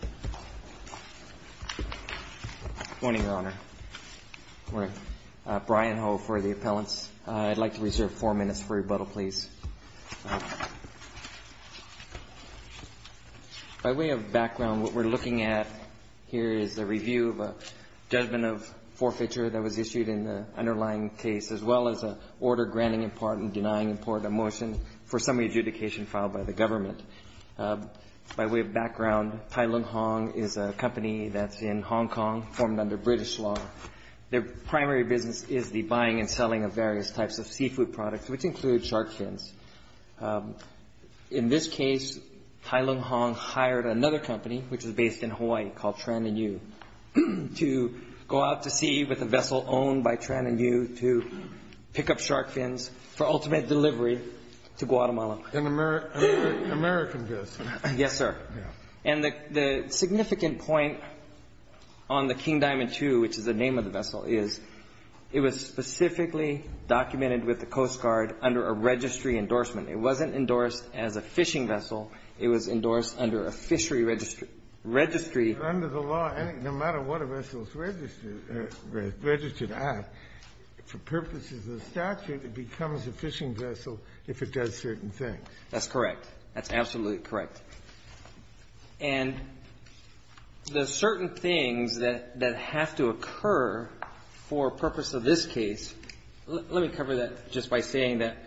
Good morning, Your Honor. Brian Ho for the appellants. I'd like to reserve four minutes for rebuttal, please. By way of background, what we're looking at here is a review of a judgment of forfeiture that was issued in the underlying case, as well as an order granting import and denying import a motion for summary adjudication filed by the government. By way of background, Tai Lung Hong is a company that's in Hong Kong, formed under British law. Their primary business is the buying and selling of various types of seafood products, which include shark fins. In this case, Tai Lung Hong hired another company, which is based in Hawaii, called Tran and Yu, to go out to sea with a vessel owned by Tran and Yu to pick up shark fins for ultimate delivery to Guatemala. An American vessel? Yes, sir. And the significant point on the King Diamond II, which is the name of the vessel, is it was specifically documented with the Coast Guard under a registry endorsement. It wasn't endorsed as a fishing vessel. It was endorsed under a fishery registry. Under the law, no matter what a vessel is registered at, for purposes of statute, it becomes a fishing vessel if it does certain things. That's correct. That's absolutely correct. And the certain things that have to occur for purpose of this case — let me cover that just by saying that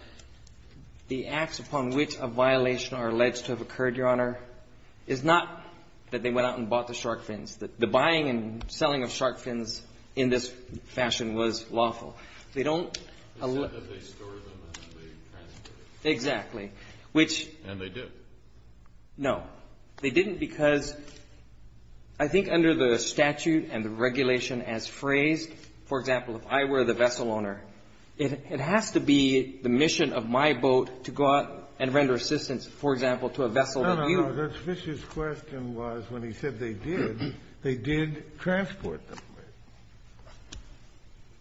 the acts upon which a violation are alleged to have occurred, Your Honor, is not that they went out and bought the shark fins. The buying and selling of shark fins in this fashion was lawful. They don't — They said that they store them and they transport them. Exactly. Which — And they did. No. They didn't because I think under the statute and the regulation as phrased, for example, if I were the vessel owner, it has to be the mission of my boat to go out and render assistance, for example, to a vessel — No, no, no. That's Fisher's question was when he said they did, they did transport them.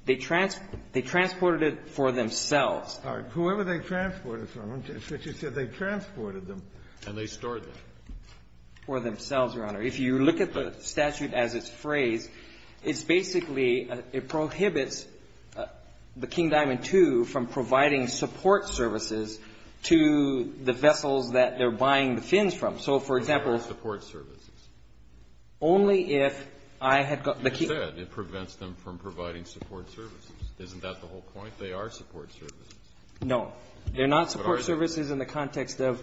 They transported it for themselves. All right. Whoever they transported from, Fisher said they transported them. And they stored them. For themselves, Your Honor. If you look at the statute as it's phrased, it's basically — it prohibits the King Diamond II from providing support services to the vessels that they're buying the fins from. So, for example — They're not support services. Only if I had got the — You said it prevents them from providing support services. Isn't that the whole point? They are support services. No. They're not support services in the context of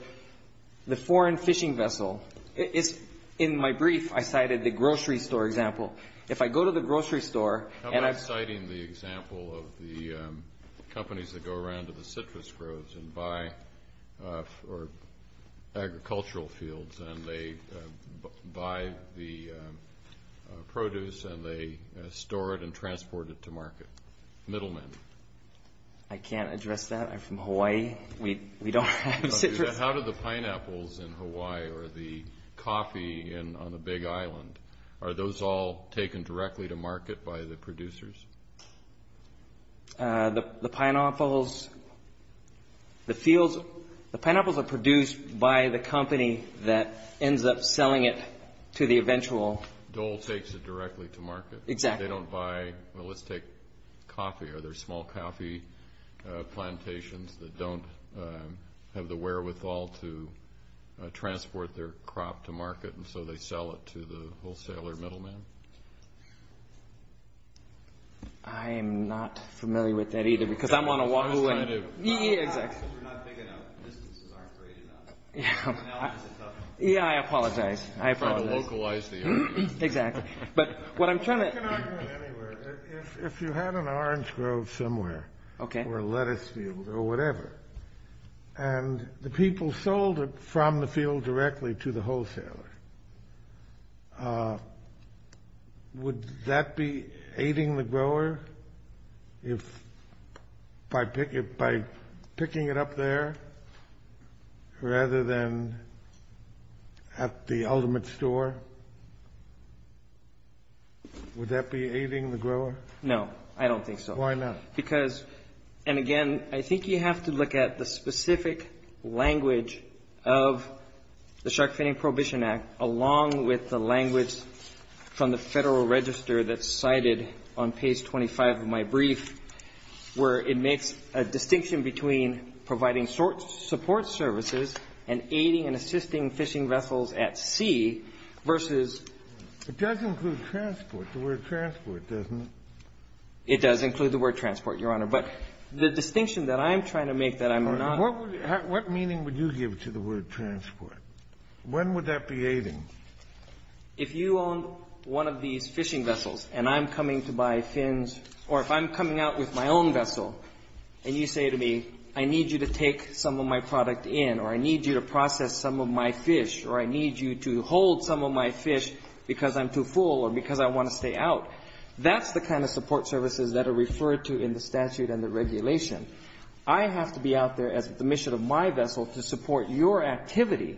the foreign fishing vessel. It's — in my brief, I cited the grocery store example. If I go to the grocery store and I — I'm citing the example of the companies that go around to the citrus groves and buy agricultural fields, and they buy the produce and they store it and transport it to market. Middlemen. I can't address that. I'm from Hawaii. We don't have citrus. How do the pineapples in Hawaii or the coffee on the Big Island, are those all taken directly to market by the producers? The pineapples — the fields — the pineapples are produced by the company that ends up selling it to the eventual — Dole takes it directly to market. Exactly. They don't buy — well, let's take coffee. Are there small coffee plantations that don't have the wherewithal to transport their crop to market, and so they sell it to the wholesaler middleman? I am not familiar with that either, because I'm on a — I was trying to — Yeah, exactly. We're not big enough. Businesses aren't great enough. Yeah, I apologize. I apologize. Trying to localize the area. Exactly. But what I'm trying to — I can argue it anywhere. If you had an orange grove somewhere — Okay. — or a lettuce field or whatever, and the people sold it from the field directly to the wholesaler, would that be aiding the grower if — by picking it up there rather than at the ultimate store? Would that be aiding the grower? No, I don't think so. Why not? Because — and again, I think you have to look at the specific language of the Shark Finning Prohibition Act, along with the language from the Federal Register that's cited on page 25 of my brief, where it makes a distinction between providing support services and aiding and assisting fishing vessels at sea versus — It does include transport, the word transport, doesn't it? It does include the word transport, Your Honor. But the distinction that I'm trying to make that I'm not — What meaning would you give to the word transport? When would that be aiding? If you own one of these fishing vessels, and I'm coming to buy fins, or if I'm coming out with my own vessel, and you say to me, I need you to take some of my product in, or I need you to process some of my fish, or I need you to hold some of my fish because I'm too full or because I want to stay out, that's the kind of support services that are referred to in the statute and the regulation. I have to be out there as the mission of my vessel to support your activity,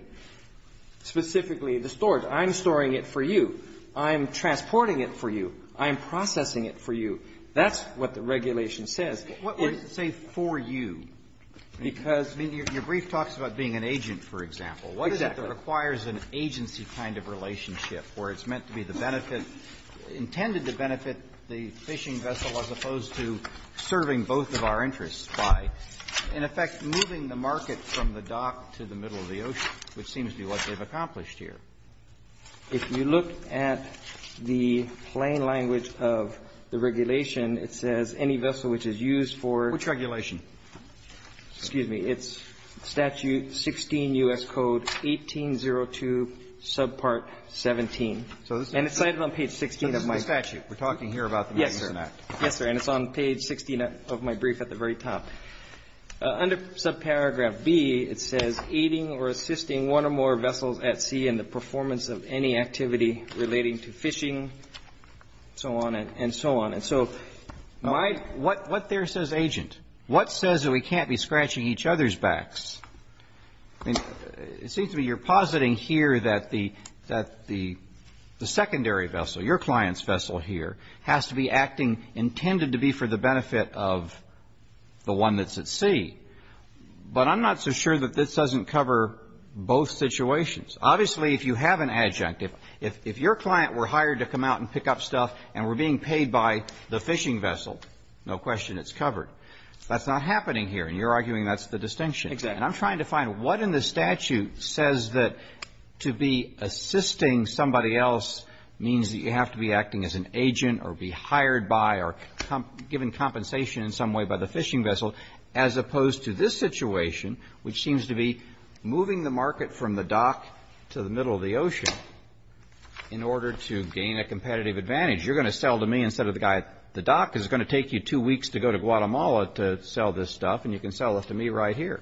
specifically the storage. I'm storing it for you. I'm transporting it for you. I'm processing it for you. That's what the regulation says. What would it say for you? Because — I mean, your brief talks about being an agent, for example. What is it that requires an agency kind of relationship where it's meant to be the benefit — intended to benefit the fishing vessel as opposed to serving both of our interests by, in effect, moving the market from the dock to the middle of the ocean, which seems to be what they've accomplished here. If you look at the plain language of the regulation, it says any vessel which is used for — Which regulation? Excuse me. It's Statute 16 U.S. Code 1802, Subpart 17. And it's cited on page 16 of my statute. We're talking here about the Magnuson Act. Yes, sir. And it's on page 16 of my brief at the very top. Under subparagraph B, it says aiding or assisting one or more vessels at sea in the performance of any activity relating to fishing, so on and so on. And so my — What there says agent? What says that we can't be scratching each other's backs? I mean, it seems to me you're positing here that the secondary vessel, your client's vessel here, has to be acting intended to be for the benefit of the one that's at sea. But I'm not so sure that this doesn't cover both situations. Obviously, if you have an adjunct, if your client were hired to come out and pick up stuff and were being paid by the fishing vessel, no question it's covered. That's not happening here. And you're arguing that's the distinction. Exactly. And I'm trying to find what in the statute says that to be assisting somebody else means that you have to be acting as an agent or be hired by or given compensation in some way by the fishing vessel as opposed to this situation, which seems to be moving the market from the dock to the middle of the ocean in order to gain a competitive advantage. You're going to sell to me instead of the guy at the dock. It's going to take you two weeks to go to Guatemala to sell this stuff, and you can sell it to me right here.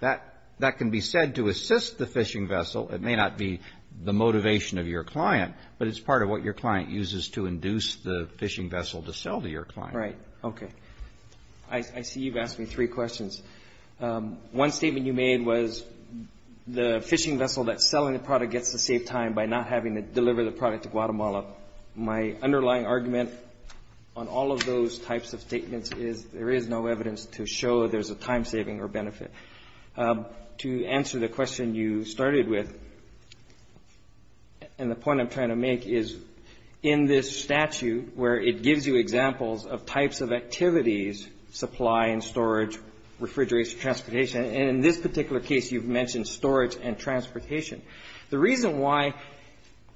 That can be said to assist the fishing vessel. It may not be the motivation of your client, but it's part of what your client uses to induce the fishing vessel to sell to your client. Right. Okay. I see you've asked me three questions. One statement you made was the fishing vessel that's selling the product gets to save time by not having to deliver the product to Guatemala. My underlying argument on all of those types of statements is there is no evidence to show there's a time-saving or benefit. To answer the question you started with, and the point I'm trying to make is in this statute where it gives you examples of types of activities, supply and storage, refrigeration, transportation, and in this particular case, you've mentioned storage and transportation. The reason why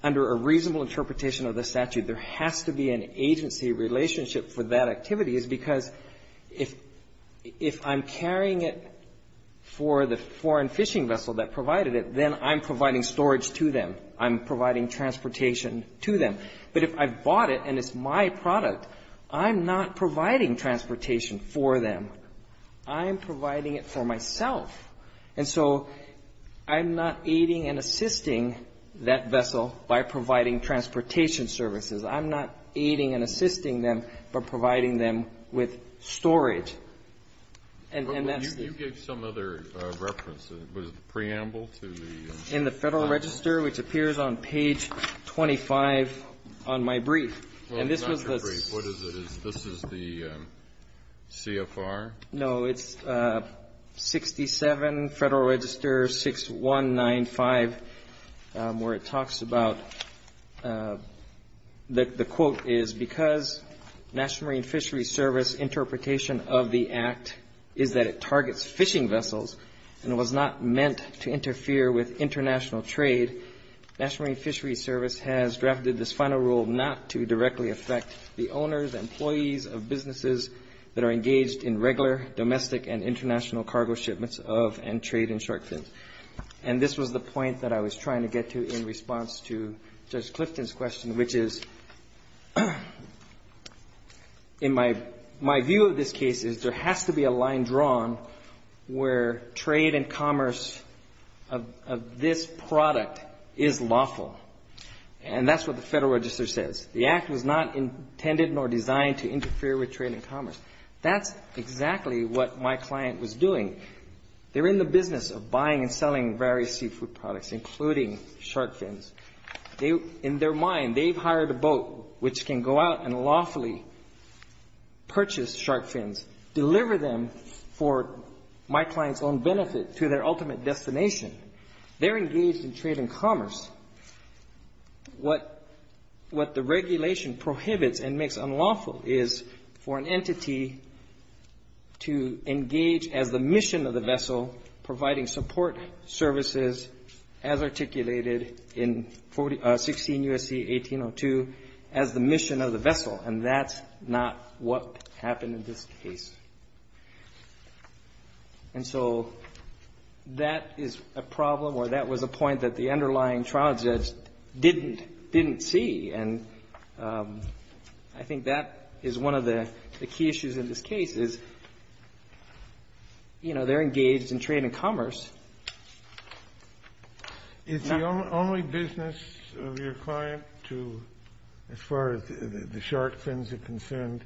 under a reasonable interpretation of the statute there has to be an agency relationship for that activity is because if I'm carrying it for the foreign fishing vessel that provided it, then I'm providing storage to them. I'm providing transportation to them. But if I've bought it and it's my product, I'm not providing transportation for them. I'm providing it for myself. And so I'm not aiding and assisting that vessel by providing transportation services. I'm not aiding and assisting them, but providing them with storage. And that's the... You gave some other reference. Was it preamble to the... In the Federal Register, which appears on page 25 on my brief. Well, it's not your brief. What is it? This is the CFR? No, it's 67 Federal Register 6195 where it talks about... The quote is, because National Marine Fisheries Service interpretation of the act is that it targets fishing vessels and it was not meant to interfere with international trade, National Marine Fisheries Service has drafted this final rule not to directly affect the owners, employees of businesses that are engaged in regular domestic and international cargo shipments of and trade in shark fins. And this was the point that I was trying to get to in response to Judge Clifton's question, which is in my view of this case is there has to be a line drawn where trade and commerce of this product is lawful. And that's what the Federal Register says. The act was not intended nor designed to interfere with trade and commerce. That's exactly what my client was doing. They're in the business of buying and selling various seafood products, including shark fins. In their mind, they've hired a boat which can go out and lawfully purchase shark fins, deliver them for my client's own benefit to their ultimate destination. They're engaged in trade and commerce. What the regulation prohibits and makes unlawful is for an entity to engage as the mission of the vessel providing support services as articulated in 16 U.S.C. 1802 as the mission of the vessel, and that's not what happened in this case. And so that is a problem or that was a point that the underlying trial judge didn't see, and I think that is one of the key issues in this case is, you know, they're engaged in trade and commerce. It's the only business of your client to, as far as the shark fins are concerned,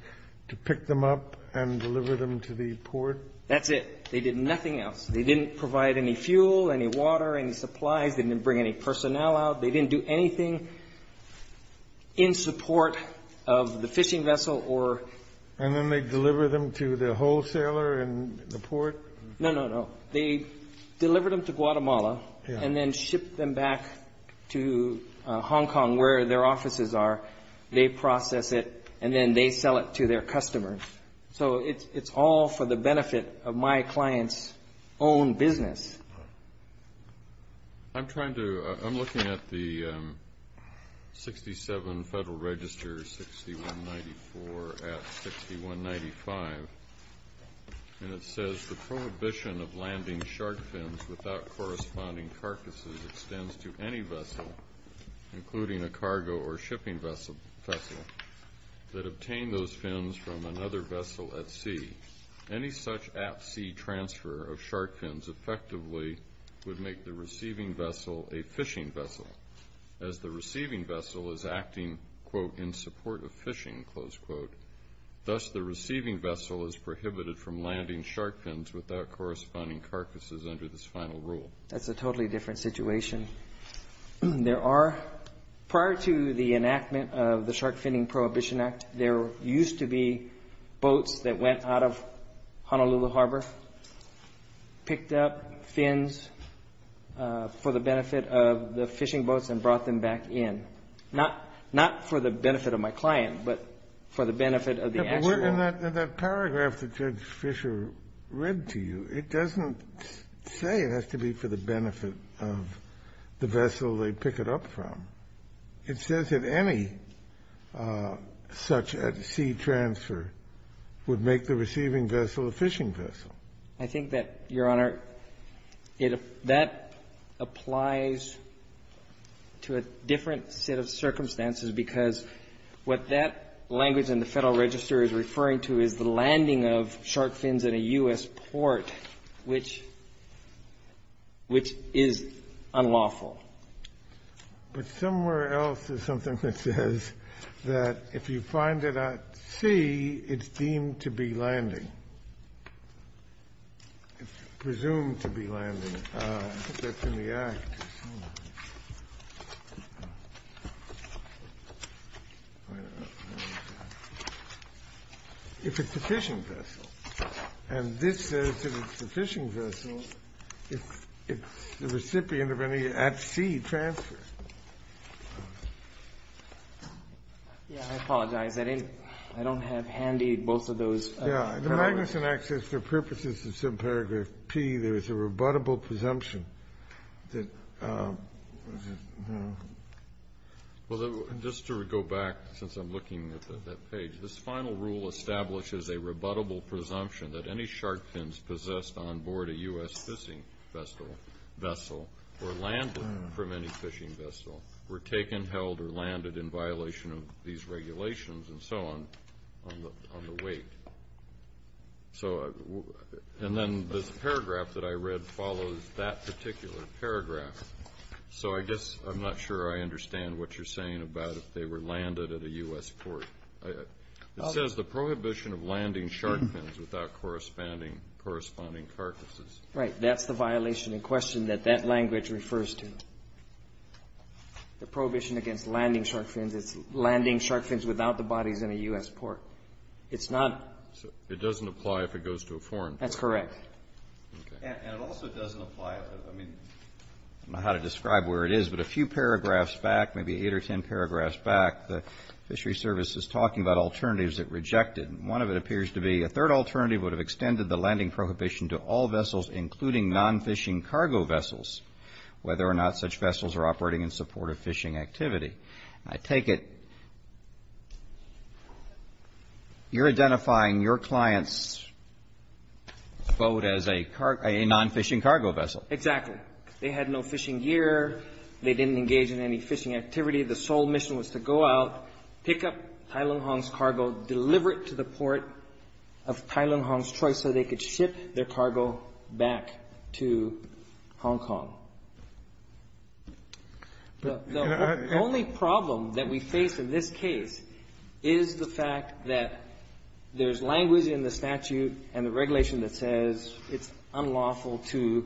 to pick them up and deliver them to the port. That's it. They did nothing else. They didn't provide any fuel, any water, any supplies. They didn't bring any personnel out. They didn't do anything in support of the fishing vessel or — And then they deliver them to the wholesaler in the port? No, no, no. They delivered them to Guatemala and then shipped them back to Hong Kong, where their offices are. They process it and then they sell it to their customers. So it's all for the benefit of my client's own business. I'm trying to — I'm looking at the 67 Federal Register 6194 at 6195, and it says, the prohibition of landing shark fins without corresponding carcasses extends to any vessel, including a cargo or shipping vessel, that obtained those fins from another vessel at sea. Any such at-sea transfer of shark fins effectively would make the receiving vessel a fishing vessel, as the receiving vessel is acting, quote, in support of fishing, close quote. Thus, the receiving vessel is prohibited from landing shark fins without corresponding carcasses under this final rule. That's a totally different situation. There are — prior to the enactment of the Shark Finning Prohibition Act, there used to be boats that went out of Honolulu Harbor, picked up fins for the benefit of the fishing boats and brought them back in, not — not for the benefit of my client, but for the benefit of the actual — And that — and that paragraph that Judge Fisher read to you, it doesn't say it has to be for the benefit of the vessel they pick it up from. It says that any such at-sea transfer would make the receiving vessel a fishing vessel. I think that, Your Honor, it — that applies to a different set of circumstances, because what that language in the Federal Register is referring to is the landing of shark fins in a U.S. port, which — which is unlawful. But somewhere else is something that says that if you find it at sea, it's deemed to be landing. It's presumed to be landing. That's in the Act. If it's a fishing vessel. And this says if it's a fishing vessel, it's the recipient of any at-sea transfer. Yeah, I apologize. I didn't — I don't have handy both of those paragraphs. Yeah, the Magnuson Act says for purposes of subparagraph P, there is a rebuttable presumption that — Well, just to go back, since I'm looking at that page, this final rule establishes a rebuttable presumption that any shark fins possessed onboard a U.S. fishing vessel were landed from any fishing vessel, were taken, held, or landed in violation of these regulations, and so on, on the weight. So — and then this paragraph that I read follows that particular paragraph. So I guess I'm not sure I understand what you're saying about if they were landed at a U.S. port. It says the prohibition of landing shark fins without corresponding carcasses. Right. That's the violation in question that that language refers to. The prohibition against landing shark fins is landing shark fins without the bodies in a U.S. port. It's not — It doesn't apply if it goes to a foreign port. That's correct. Okay. And it also doesn't apply — I mean, I don't know how to describe where it is, but a few paragraphs back, maybe eight or ten paragraphs back, the Fishery Service is talking about alternatives it rejected. One of it appears to be a third alternative would have extended the landing prohibition to all vessels, including non-fishing cargo vessels, whether or not such vessels are operating in support of fishing activity. I take it you're identifying your client's boat as a non-fishing cargo vessel. Exactly. They had no fishing gear. They didn't engage in any fishing activity. The sole mission was to go out, pick up Tai Lung Hong's cargo, deliver it to the port of Tai Lung Hong's choice so they could ship their cargo back to Hong Kong. The only problem that we face in this case is the fact that there's language in the statute and the regulation that says it's unlawful to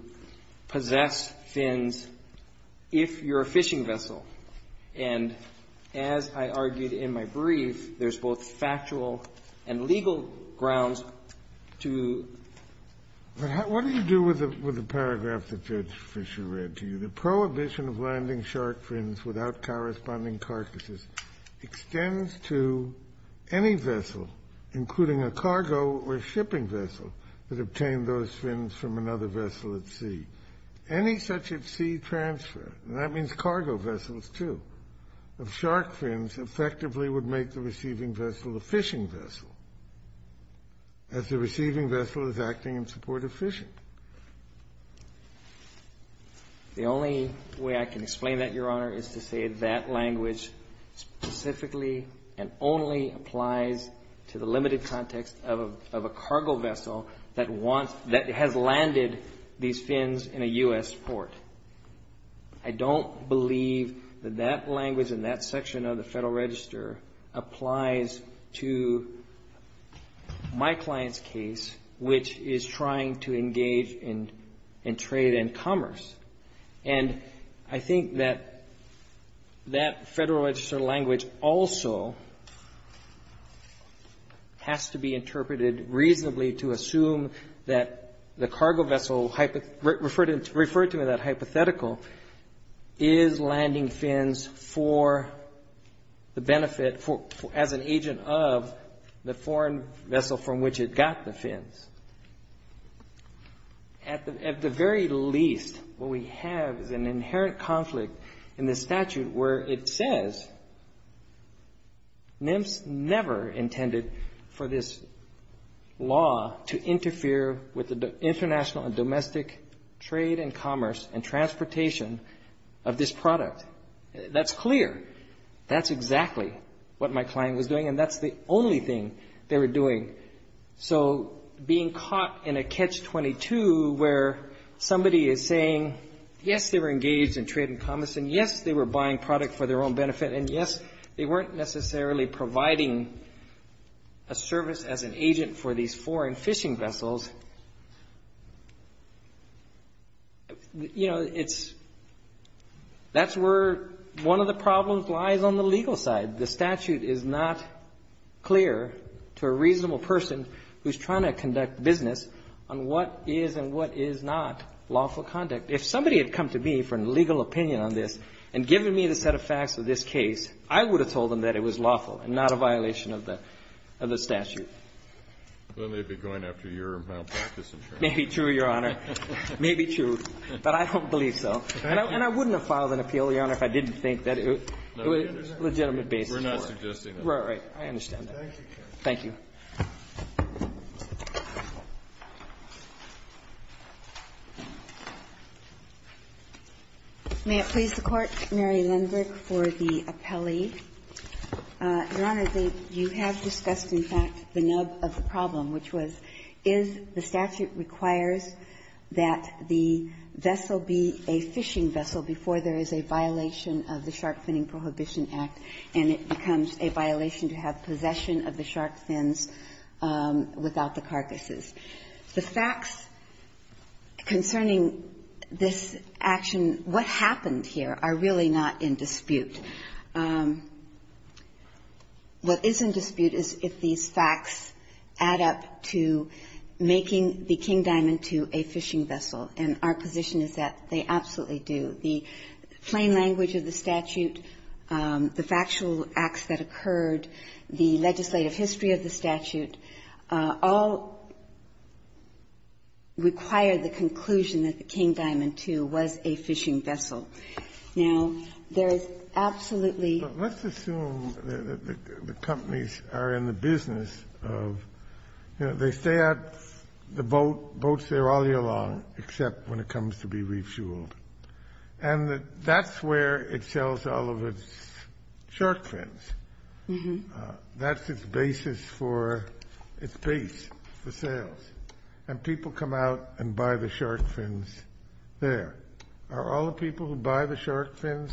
possess fins if you're a fishing vessel. And as I argued in my brief, there's both factual and legal grounds to — as I read to you, the prohibition of landing shark fins without corresponding carcasses extends to any vessel, including a cargo or shipping vessel, that obtained those fins from another vessel at sea. Any such at sea transfer, and that means cargo vessels, too, of shark fins effectively would make the receiving vessel a fishing vessel, as the receiving vessel is acting in support of fishing. The only way I can explain that, Your Honor, is to say that language specifically and only applies to the limited context of a cargo vessel that wants — that has landed these fins in a U.S. port. I don't believe that that language in that section of the statute is trying to engage in trade and commerce. And I think that that Federal Register language also has to be interpreted reasonably to assume that the cargo vessel referred to in that hypothetical is landing fins for the benefit — as an agent of the foreign vessel from which it got the fins. At the very least, what we have is an inherent conflict in the statute where it says, NIMS never intended for this law to interfere with the international and domestic trade and commerce and transportation of this product. That's clear. That's exactly what my client was doing, and that's the only thing they were doing. So being caught in a catch-22 where somebody is saying, yes, they were engaged in trade and commerce, and yes, they were buying product for their own benefit, and yes, they weren't necessarily providing a service as an agent for these foreign fishing vessels, you know, it's — that's where one of the problems lies on the legal side. The statute is not clear to a reasonable person who's trying to conduct business on what is and what is not lawful conduct. If somebody had come to me for a legal opinion on this and given me the set of facts of this case, I would have told them that it was lawful and not a violation of the statute. Then they'd be going after your malpractice insurance. Maybe true, Your Honor. Maybe true. But I don't believe so. And I wouldn't have filed an appeal, Your Honor, if I didn't think that it was a legitimate basis for it. We're not suggesting that. Right, right. I understand that. Thank you. May it please the Court, Mary Lindberg for the appellee. Your Honor, you have discussed, in fact, the nub of the problem, which was, is the statute requires that the vessel be a fishing vessel before there is a violation of the Shark Finning Prohibition Act, and it becomes a violation to have possession of the shark fins without the carcasses. The facts concerning this action, what happened in dispute, what is in dispute is if these facts add up to making the King Diamond II a fishing vessel. And our position is that they absolutely do. The plain language of the statute, the factual acts that occurred, the legislative history of the statute, all require the conclusion that the King Diamond II was a fishing vessel. Absolutely. But let's assume that the companies are in the business of, you know, they stay out the boat, boats there all year long, except when it comes to be refueled. And that's where it sells all of its shark fins. That's its basis for its base for sales. And people come out and buy the shark fins there. Are all the people who buy the shark fins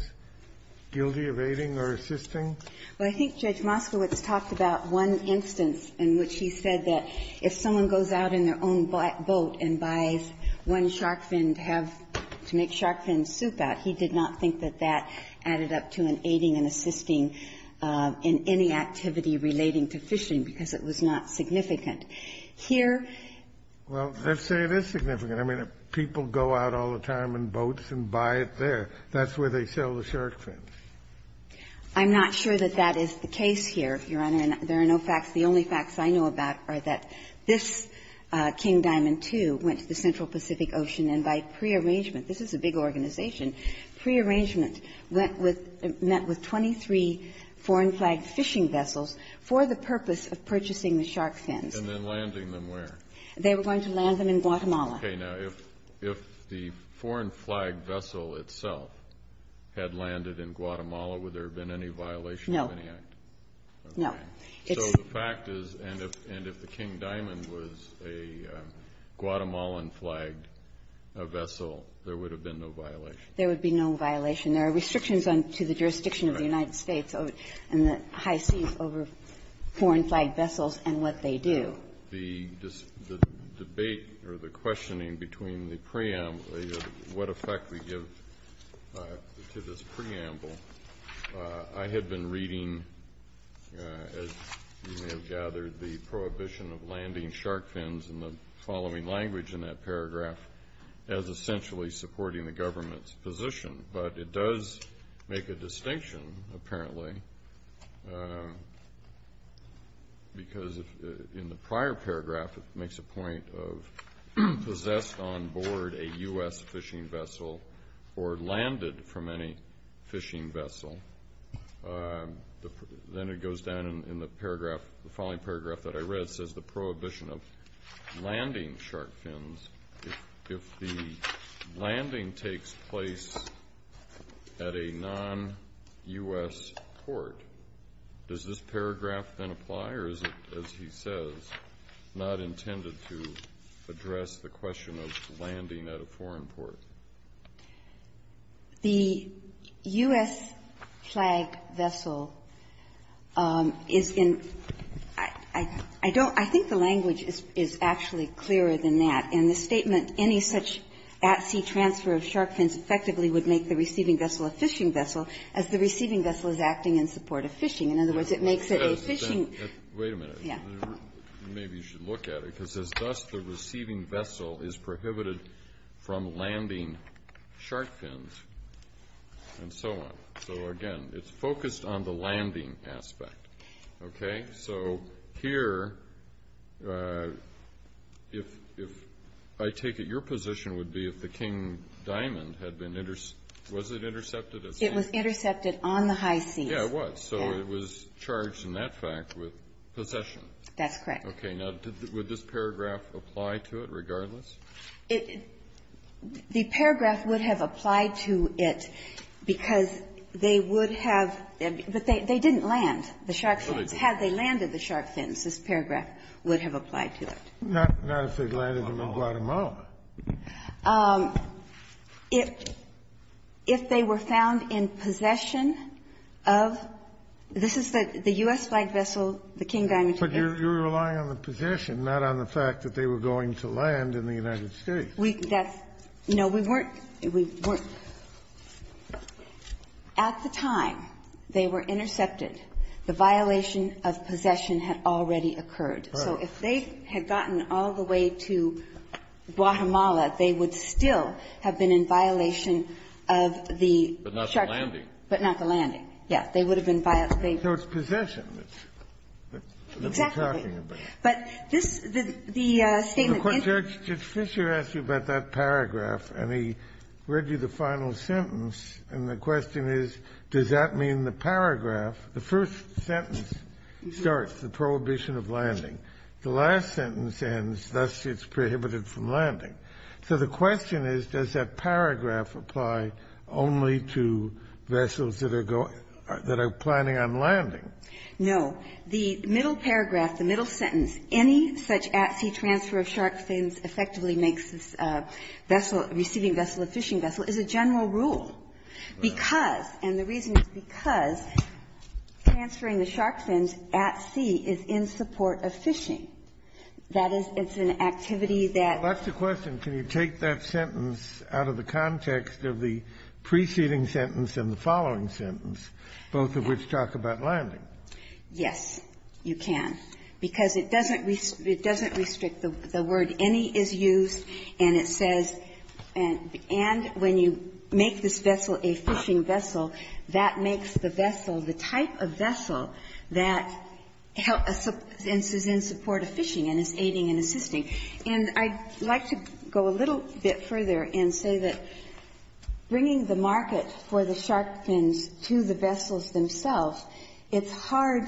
guilty of aiding or assisting? Well, I think Judge Moskowitz talked about one instance in which he said that if someone goes out in their own boat and buys one shark fin to have to make shark fin soup out, he did not think that that added up to an aiding and assisting in any activity relating to fishing, because it was not significant. Here — Well, let's say it is significant. I mean, people go out all the time in boats and buy it there. That's where they sell the shark fins. I'm not sure that that is the case here, Your Honor. And there are no facts. The only facts I know about are that this King Diamond II went to the Central Pacific Ocean, and by prearrangement — this is a big organization — prearrangement went with — met with 23 foreign-flagged fishing vessels for the purpose of purchasing the shark fins. And then landing them where? They were going to land them in Guatemala. Okay. Now, if the foreign-flagged vessel itself had landed in Guatemala, would there have been any violation of any act? No. No. So the fact is, and if the King Diamond was a Guatemalan-flagged vessel, there would have been no violation. There would be no violation. There are restrictions on — to the jurisdiction of the United States and the high seas over foreign-flagged vessels and what they do. The debate or the questioning between the preamble — what effect we give to this preamble — I had been reading, as you may have gathered, the prohibition of landing shark fins in the following language in that paragraph as essentially supporting the government's position. But it does make a distinction, apparently, because in the prior paragraph it makes a point of possessed on board a U.S. fishing vessel or landed from any fishing vessel. Then it goes down in the paragraph — the following paragraph that I read says the prohibition of landing shark fins if the landing takes place at a non-U.S. port. Does this paragraph then apply, or is it, as he says, not intended to address the question of landing at a foreign port? The U.S. flagged vessel is in — I don't — I think the language is actually clearer than that. In the statement, any such at-sea transfer of shark fins effectively would make the receiving vessel a fishing vessel, as the receiving vessel is acting in support of fishing. In other words, it makes it a fishing — Wait a minute. Yeah. Maybe you should look at it, because it says, Thus, the receiving vessel is prohibited from landing shark fins, and so on. So, again, it's focused on the landing aspect. Okay? So here, if — I take it your position would be if the King Diamond had been — was it intercepted at sea? It was intercepted on the high seas. Yeah, it was. So it was charged in that fact with possession. That's correct. Okay. Now, would this paragraph apply to it regardless? It — the paragraph would have applied to it because they would have — but they didn't land the shark fins. No, they didn't. Had they landed the shark fins, this paragraph would have applied to it. Not if they'd landed them in Guatemala. If they were found in possession of — this is the U.S. flagged vessel, the King Diamond But you're relying on the possession, not on the fact that they were going to land in the United States. We — that's — no, we weren't. We weren't. At the time they were intercepted, the violation of possession had already occurred. Right. So if they had gotten all the way to Guatemala, they would still have been in violation of the shark — But not the landing. But not the landing. They would have been — So it's possession. That's what we're talking about. Exactly. But this — the statement — But, Judge, Judge Fischer asked you about that paragraph, and he read you the final sentence, and the question is, does that mean the paragraph — the first sentence starts, the prohibition of landing. The last sentence ends, thus it's prohibited from landing. So the question is, does that paragraph apply only to vessels that are going — that are planning on landing? No. The middle paragraph, the middle sentence, any such at-sea transfer of shark fins effectively makes this vessel — receiving vessel a fishing vessel, is a general rule because — and the reason is because transferring the shark fins at sea is in support of fishing. That is — it's an activity that — Well, that's the question. Can you take that sentence out of the context of the preceding sentence and the following sentence, both of which talk about landing? Yes, you can, because it doesn't — it doesn't restrict the word. Any is used, and it says — and when you make this vessel a fishing vessel, that makes the vessel the type of vessel that is in support of fishing and is aiding and assisting. And I'd like to go a little bit further and say that bringing the market for the shark fins to the vessels themselves, it's hard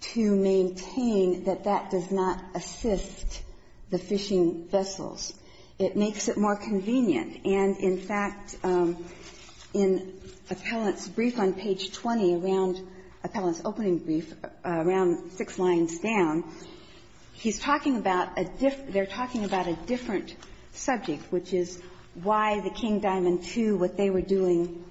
to maintain that that does not assist the fishing vessels. It makes it more convenient. And, in fact, in Appellant's brief on page 20, around Appellant's opening brief, around six lines down, he's talking about a — they're talking about a different subject, which is why the King Diamond II, what they were doing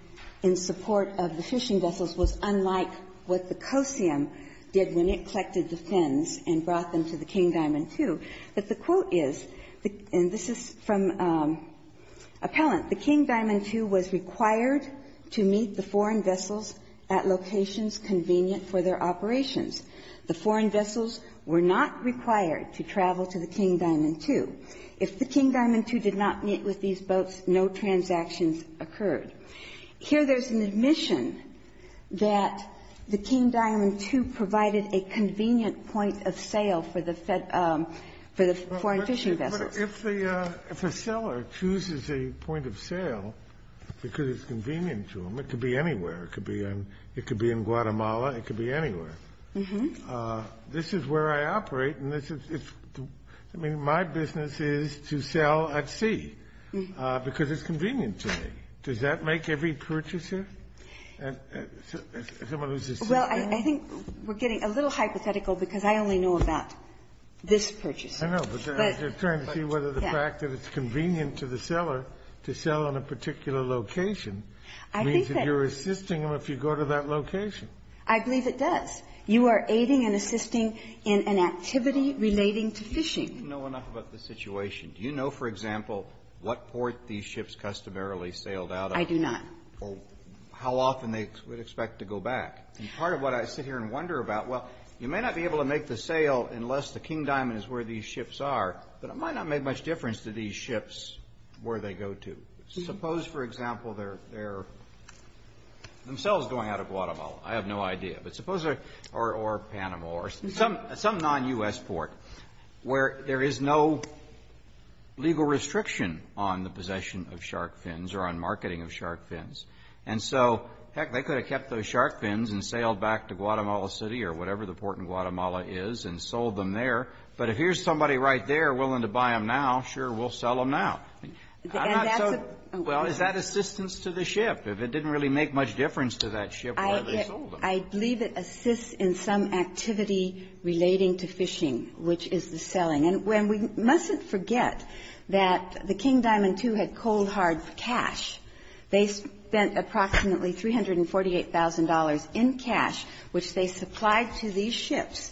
in support of the fishing vessels, was unlike what the Kosium did when it collected the fins and brought them to the King Diamond II. But the quote is — and this is from Appellant — But if the — if a seller chooses a point of sale, they have to meet the conditions And that's the point of sale. The King Diamond II was required to meet the foreign vessels at locations convenient for their operations. The foreign vessels were not required to travel to the King Diamond II. If the King Diamond II did not meet with these boats, no transactions occurred. Here, there's an admission that the King Diamond II provided a convenient point of sale for the — for the foreign fishing vessels. But if the — if a seller chooses a point of sale because it's convenient to them, it could be anywhere. It could be in — it could be in Guatemala. It could be anywhere. This is where I operate, and this is — I mean, my business is to sell at sea because it's convenient to me. Does that make every purchaser — someone who's a sailor? Well, I think we're getting a little hypothetical because I only know about this purchaser. I know, but I'm just trying to see whether the fact that it's convenient to the seller to sell on a particular location means that you're assisting them if you go to that location. I believe it does. You are aiding and assisting in an activity relating to fishing. I don't know enough about the situation. Do you know, for example, what port these ships customarily sailed out of? I do not. Or how often they would expect to go back. And part of what I sit here and wonder about, well, you may not be able to make the sail unless the King Diamond is where these ships are, but it might not make much difference to these ships where they go to. Suppose, for example, they're themselves going out of Guatemala. I have no idea. But suppose a — or Panama or some non-U.S. port where there is no legal restriction on the possession of shark fins or on marketing of shark fins. And so, heck, they could have kept those shark fins and sailed back to Guatemala City or whatever the port in Guatemala is and sold them there. But if here's somebody right there willing to buy them now, sure, we'll sell them now. I'm not so — And that's a — Well, is that assistance to the ship? If it didn't really make much difference to that ship where they sold them? I believe it assists in some activity relating to fishing, which is the selling. And we mustn't forget that the King Diamond II had cold, hard cash. They spent approximately $348,000 in cash, which they supplied to these ships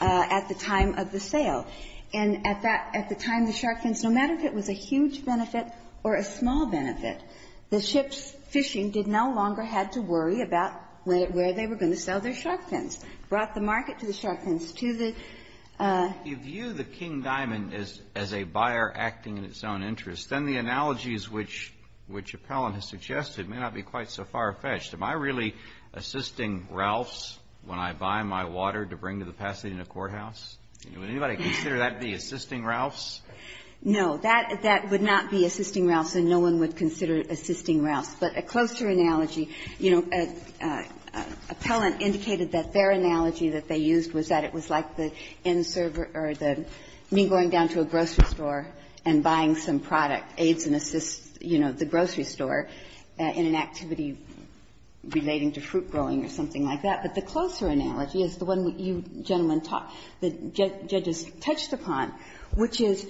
at the time of the sale. And at that — at the time, the shark fins, no matter if it was a huge benefit or a small benefit, the ship's fishing did no longer have to worry about where they were going to sell their shark fins. Brought the market to the shark fins, to the — You view the King Diamond as a buyer acting in its own interest. Then the analogies which Appellant has suggested may not be quite so far-fetched. Am I really assisting Ralphs when I buy my water to bring to the Pasadena courthouse? Would anybody consider that to be assisting Ralphs? No. That would not be assisting Ralphs, and no one would consider it assisting Ralphs. But a closer analogy, you know, Appellant indicated that their analogy that they used was that it was like the inserver or the — me going down to a grocery store and buying some product, aids and assists, you know, the grocery store in an activity relating to fruit growing or something like that. But the closer analogy is the one you gentlemen — the judges touched upon, which is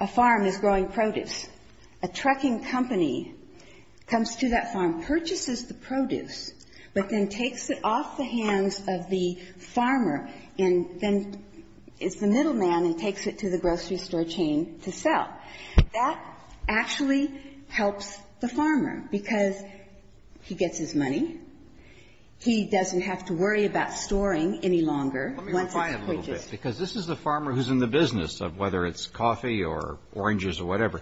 a farm is growing produce. A trucking company comes to that farm, purchases the produce, but then takes it off the hands of the farmer and then is the middleman and takes it to the grocery store chain to sell. That actually helps the farmer, because he gets his money. He doesn't have to worry about storing any longer once it's purchased. But there's a problem with this. Because this is the farmer who's in the business of whether it's coffee or oranges or whatever.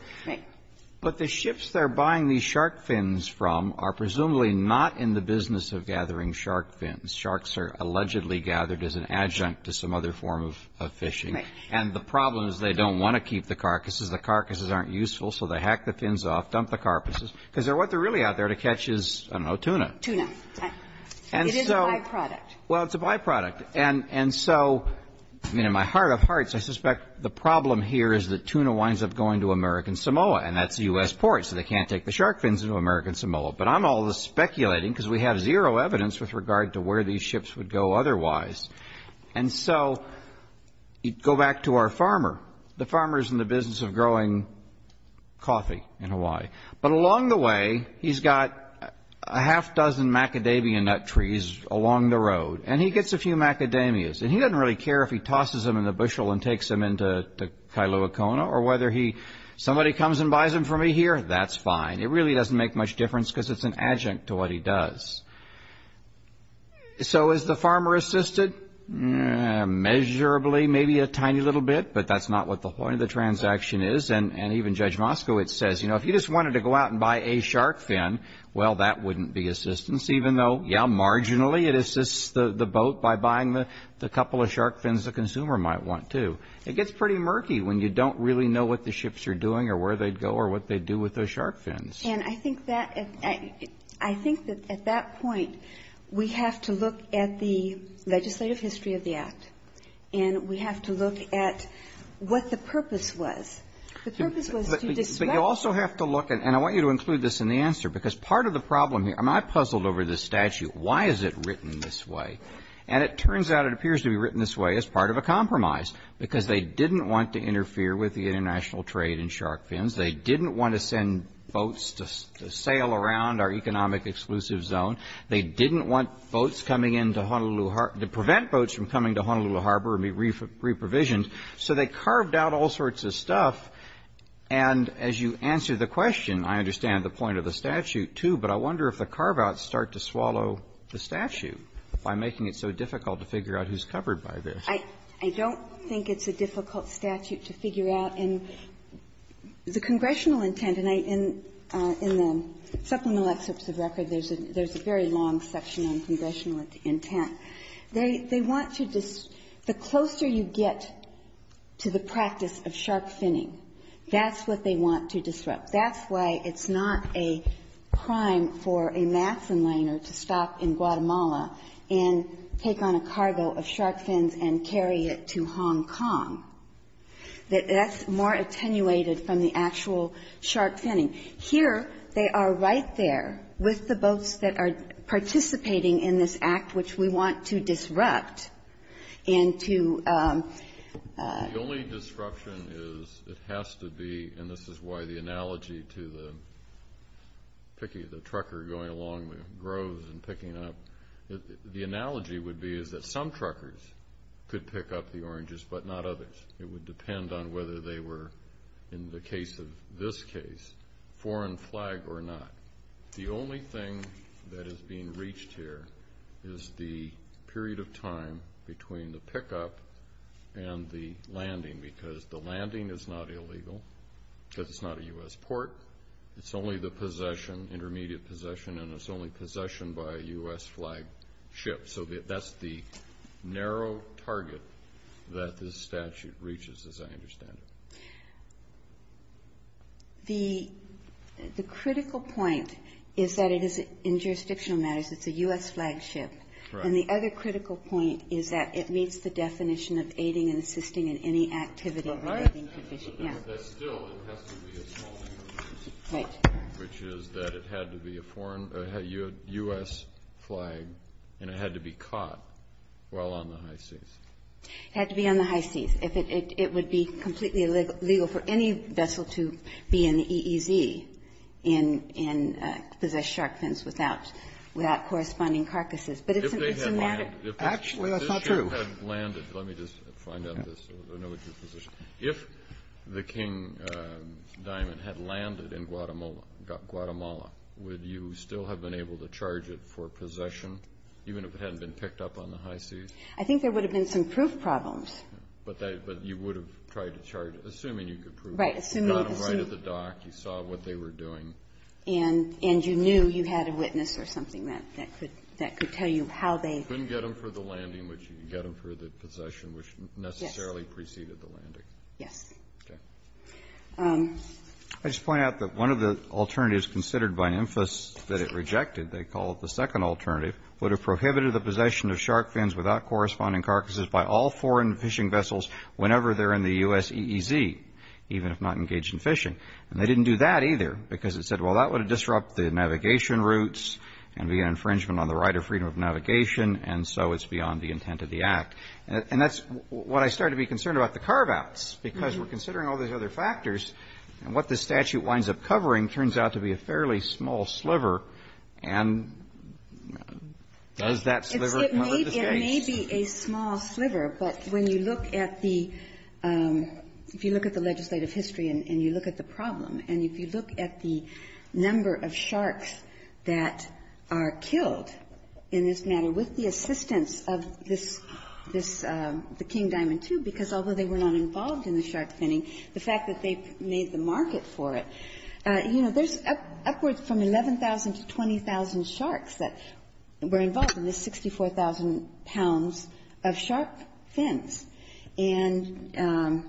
But the ships they're buying these shark fins from are presumably not in the business of gathering shark fins. Sharks are allegedly gathered as an adjunct to some other form of fishing. And the problem is they don't want to keep the carcasses. The carcasses aren't useful, so they hack the fins off, dump the carcasses, because what they're really out there to catch is, I don't know, tuna. Tuna. It is a byproduct. Well, it's a byproduct. And so, I mean, in my heart of hearts, I suspect the problem here is that tuna winds up going to American Samoa. And that's the U.S. port, so they can't take the shark fins into American Samoa. But I'm all speculating, because we have zero evidence with regard to where these ships would go otherwise. And so, you go back to our farmer. The farmer's in the business of growing coffee in Hawaii. But along the way, he's got a half dozen macadamia nut trees along the road. And he gets a few macadamias. And he doesn't really care if he tosses them in the bushel and takes them into Kailua-Kona, or whether he... Somebody comes and buys them from me here, that's fine. It really doesn't make much difference because it's an adjunct to what he does. So, is the farmer assisted? Measurably, maybe a tiny little bit, but that's not what the point of the transaction is. And even Judge Moskowitz says, you know, if you just wanted to go out and buy a shark fin, well, that wouldn't be assistance, even though, yeah, marginally, it assists the boat by buying the couple of shark fins the consumer might want, too. It gets pretty murky when you don't really know what the ships are doing, or where they'd go, or what they'd do with those shark fins. And I think that at that point, we have to look at the legislative history of the Act, and we have to look at what the purpose was. The purpose was to discuss... But you also have to look at, and I want you to include this in the answer, because part of the problem here, I mean, I puzzled over this statute. Why is it written this way? And it turns out it appears to be written this way as part of a compromise, because they didn't want to interfere with the international trade in shark fins. They didn't want to send boats to sail around our economic exclusive zone. They didn't want boats coming into Honolulu Harbor, to prevent boats from coming to Honolulu Harbor and be reprovisioned. So they carved out all sorts of stuff. And as you answer the question, I understand the point of the statute, too, but I wonder if the carve-outs start to swallow the statute by making it so difficult to figure out who's covered by this. I don't think it's a difficult statute to figure out. And the congressional intent, and I — in the supplemental excerpts of record, there's a very long section on congressional intent. They want to — the closer you get to the practice of shark finning, that's what they want to disrupt. That's why it's not a crime for a Matson liner to stop in Guatemala and take on a cargo of shark fins and carry it to Hong Kong. That's more attenuated from the actual shark finning. Here, they are right there with the boats that are participating in this act, which we want to disrupt and to — The analogy to the trucker going along the groves and picking up — the analogy would be is that some truckers could pick up the oranges, but not others. It would depend on whether they were, in the case of this case, foreign flag or not. The only thing that is being reached here is the period of time between the pickup and the landing, because the landing is not illegal, because it's not a U.S. port. It's only the possession, intermediate possession, and it's only possession by a U.S. flagship. So that's the narrow target that this statute reaches, as I understand it. The critical point is that it is — in jurisdictional matters, it's a U.S. flagship. Correct. And the other critical point is that it meets the definition of aiding and assisting in any activity — Right. Yeah. But still, it has to be a small — Right. — which is that it had to be a foreign — a U.S. flag, and it had to be caught while on the high seas. It had to be on the high seas. If it — it would be completely illegal for any vessel to be in the EEZ and possess shark fins without corresponding carcasses. But it's a matter of — Actually, that's not true. If this ship had landed — let me just find out this. I know what your position is. If the King Diamond had landed in Guatemala, would you still have been able to charge it for possession, even if it hadn't been picked up on the high seas? I think there would have been some proof problems. But you would have tried to charge it, assuming you could prove it. Right. Assuming — You got them right at the dock. You saw what they were doing. And you knew you had a witness or something that could tell you how they — You couldn't get them for the landing, but you could get them for the possession, which necessarily preceded the landing. Yes. Okay. I just want to point out that one of the alternatives considered by INFAS that it rejected — they call it the second alternative — would have prohibited the possession of shark fins without corresponding carcasses by all foreign fishing vessels whenever they're in the U.S. EEZ, even if not engaged in fishing. And they didn't do that, either, because it said, well, that would disrupt the navigation routes and be an infringement on the right of freedom of navigation, and so it's beyond the intent of the Act. And that's what I started to be concerned about, the carve-outs, because we're considering all these other factors, and what the statute winds up covering turns out to be a fairly small sliver. And does that sliver cover the states? It may be a small sliver, but when you look at the — if you look at the legislative history and you look at the problem, and if you look at the number of sharks that are killed in this matter with the assistance of this — this — the King Diamond II, because although they were not involved in the shark finning, the fact that they made the market for it, you know, there's upwards from 11,000 to 20,000 sharks that were involved in the 64,000 pounds of shark fins. And,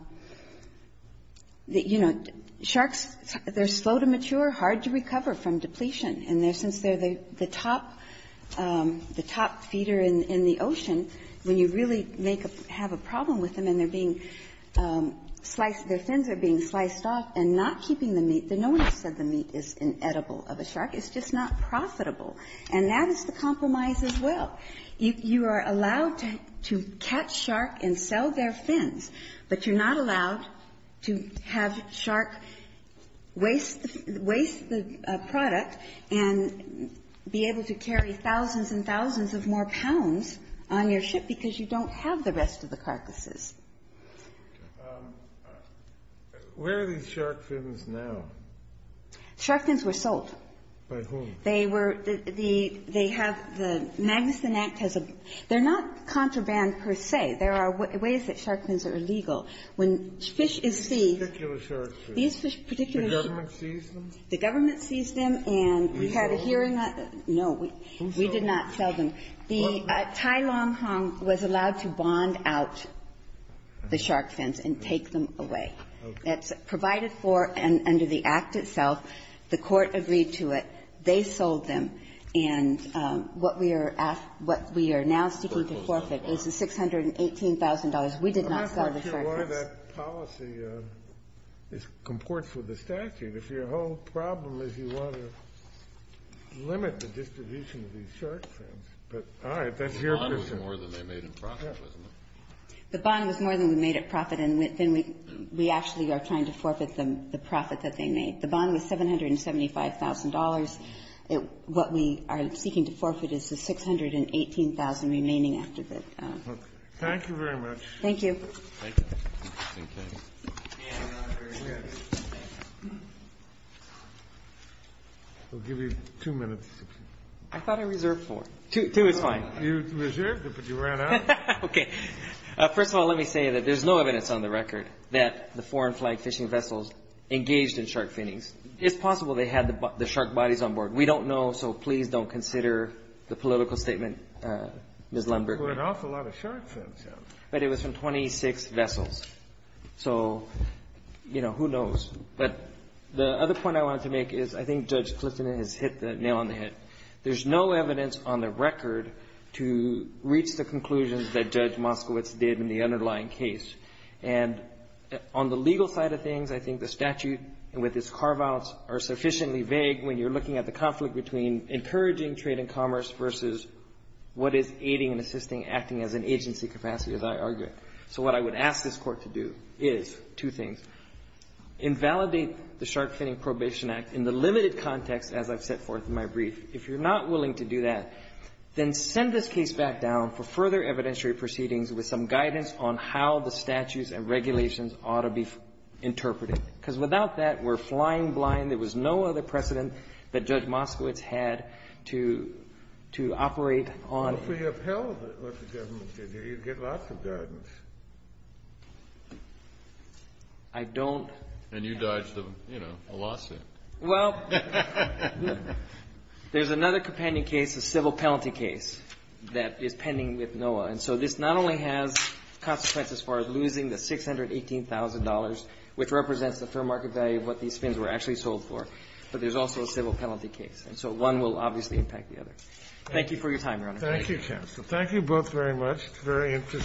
you know, sharks, they're slow to mature, hard to recover from depletion. And since they're the top — the top feeder in the ocean, when you really make a — have a problem with them and they're being sliced, their fins are being sliced off and not keeping the meat, then no one has said the meat is inedible of a shark. It's just not profitable. And that is the compromise as well. You are allowed to catch shark and sell their fins, but you're not allowed to have shark waste — waste the product and be able to carry thousands and thousands of more pounds on your ship because you don't have the rest of the carcasses. Where are these shark fins now? Shark fins were sold. By whom? They were — the — they have — the Magnuson Act has a — they're not contraband per se. There are ways that shark fins are illegal. When fish is seized — These particular shark fins. These particular shark fins. The government seized them? The government seized them and we had a hearing on it. No, we did not sell them. The Tai Long Hong was allowed to bond out the shark fins and take them away. It's provided for under the Act itself. The Court agreed to it. They sold them. And what we are — what we are now seeking to forfeit is the $618,000. We did not sell the shark fins. I'm not quite sure why that policy comports with the statute. If your whole problem is you want to limit the distribution of these shark fins. But all right, that's your concern. The bond was more than they made in profit, wasn't it? The bond was more than we made in profit, and then we actually are trying to forfeit them the profit that they made. The bond was $775,000. What we are seeking to forfeit is the $618,000 remaining after that. Thank you very much. Thank you. We'll give you two minutes. I thought I reserved four. Two is fine. You reserved it, but you ran out. Okay. First of all, let me say that there's no evidence on the record that the foreign flag fishing vessels engaged in shark finnings. It's possible they had the shark bodies on board. We don't know, so please don't consider the political statement, Ms. Lundberg. There were an awful lot of shark fins. But it was from 26 vessels. So, you know, who knows? But the other point I wanted to make is I think Judge Clifton has hit the nail on the head. There's no evidence on the record to reach the conclusions that Judge Moskowitz did in the underlying case. And on the legal side of things, I think the statute with its carve-outs are sufficiently vague when you're looking at the conflict between encouraging trade and commerce versus what is aiding and assisting acting as an agency capacity, as I argue. So what I would ask this Court to do is two things. Invalidate the Shark Finning Probation Act in the limited context as I've set forth in my brief. If you're not willing to do that, then send this case back down for further evidentiary proceedings with some guidance on how the statutes and regulations ought to be interpreted. Because without that, we're flying blind. There was no other precedent that Judge Moskowitz had to operate on. If we upheld what the government did here, you'd get lots of guidance. I don't. And you dodged, you know, a lawsuit. Well, there's another companding case, a civil penalty case, that is pending with NOAA. And so this not only has consequences for losing the $618,000, which represents the fair market value of what these fins were actually sold for, but there's also a civil penalty case. And so one will obviously impact the other. Thank you for your time, Your Honor. Thank you, Counsel. Thank you both very much. It's very interesting.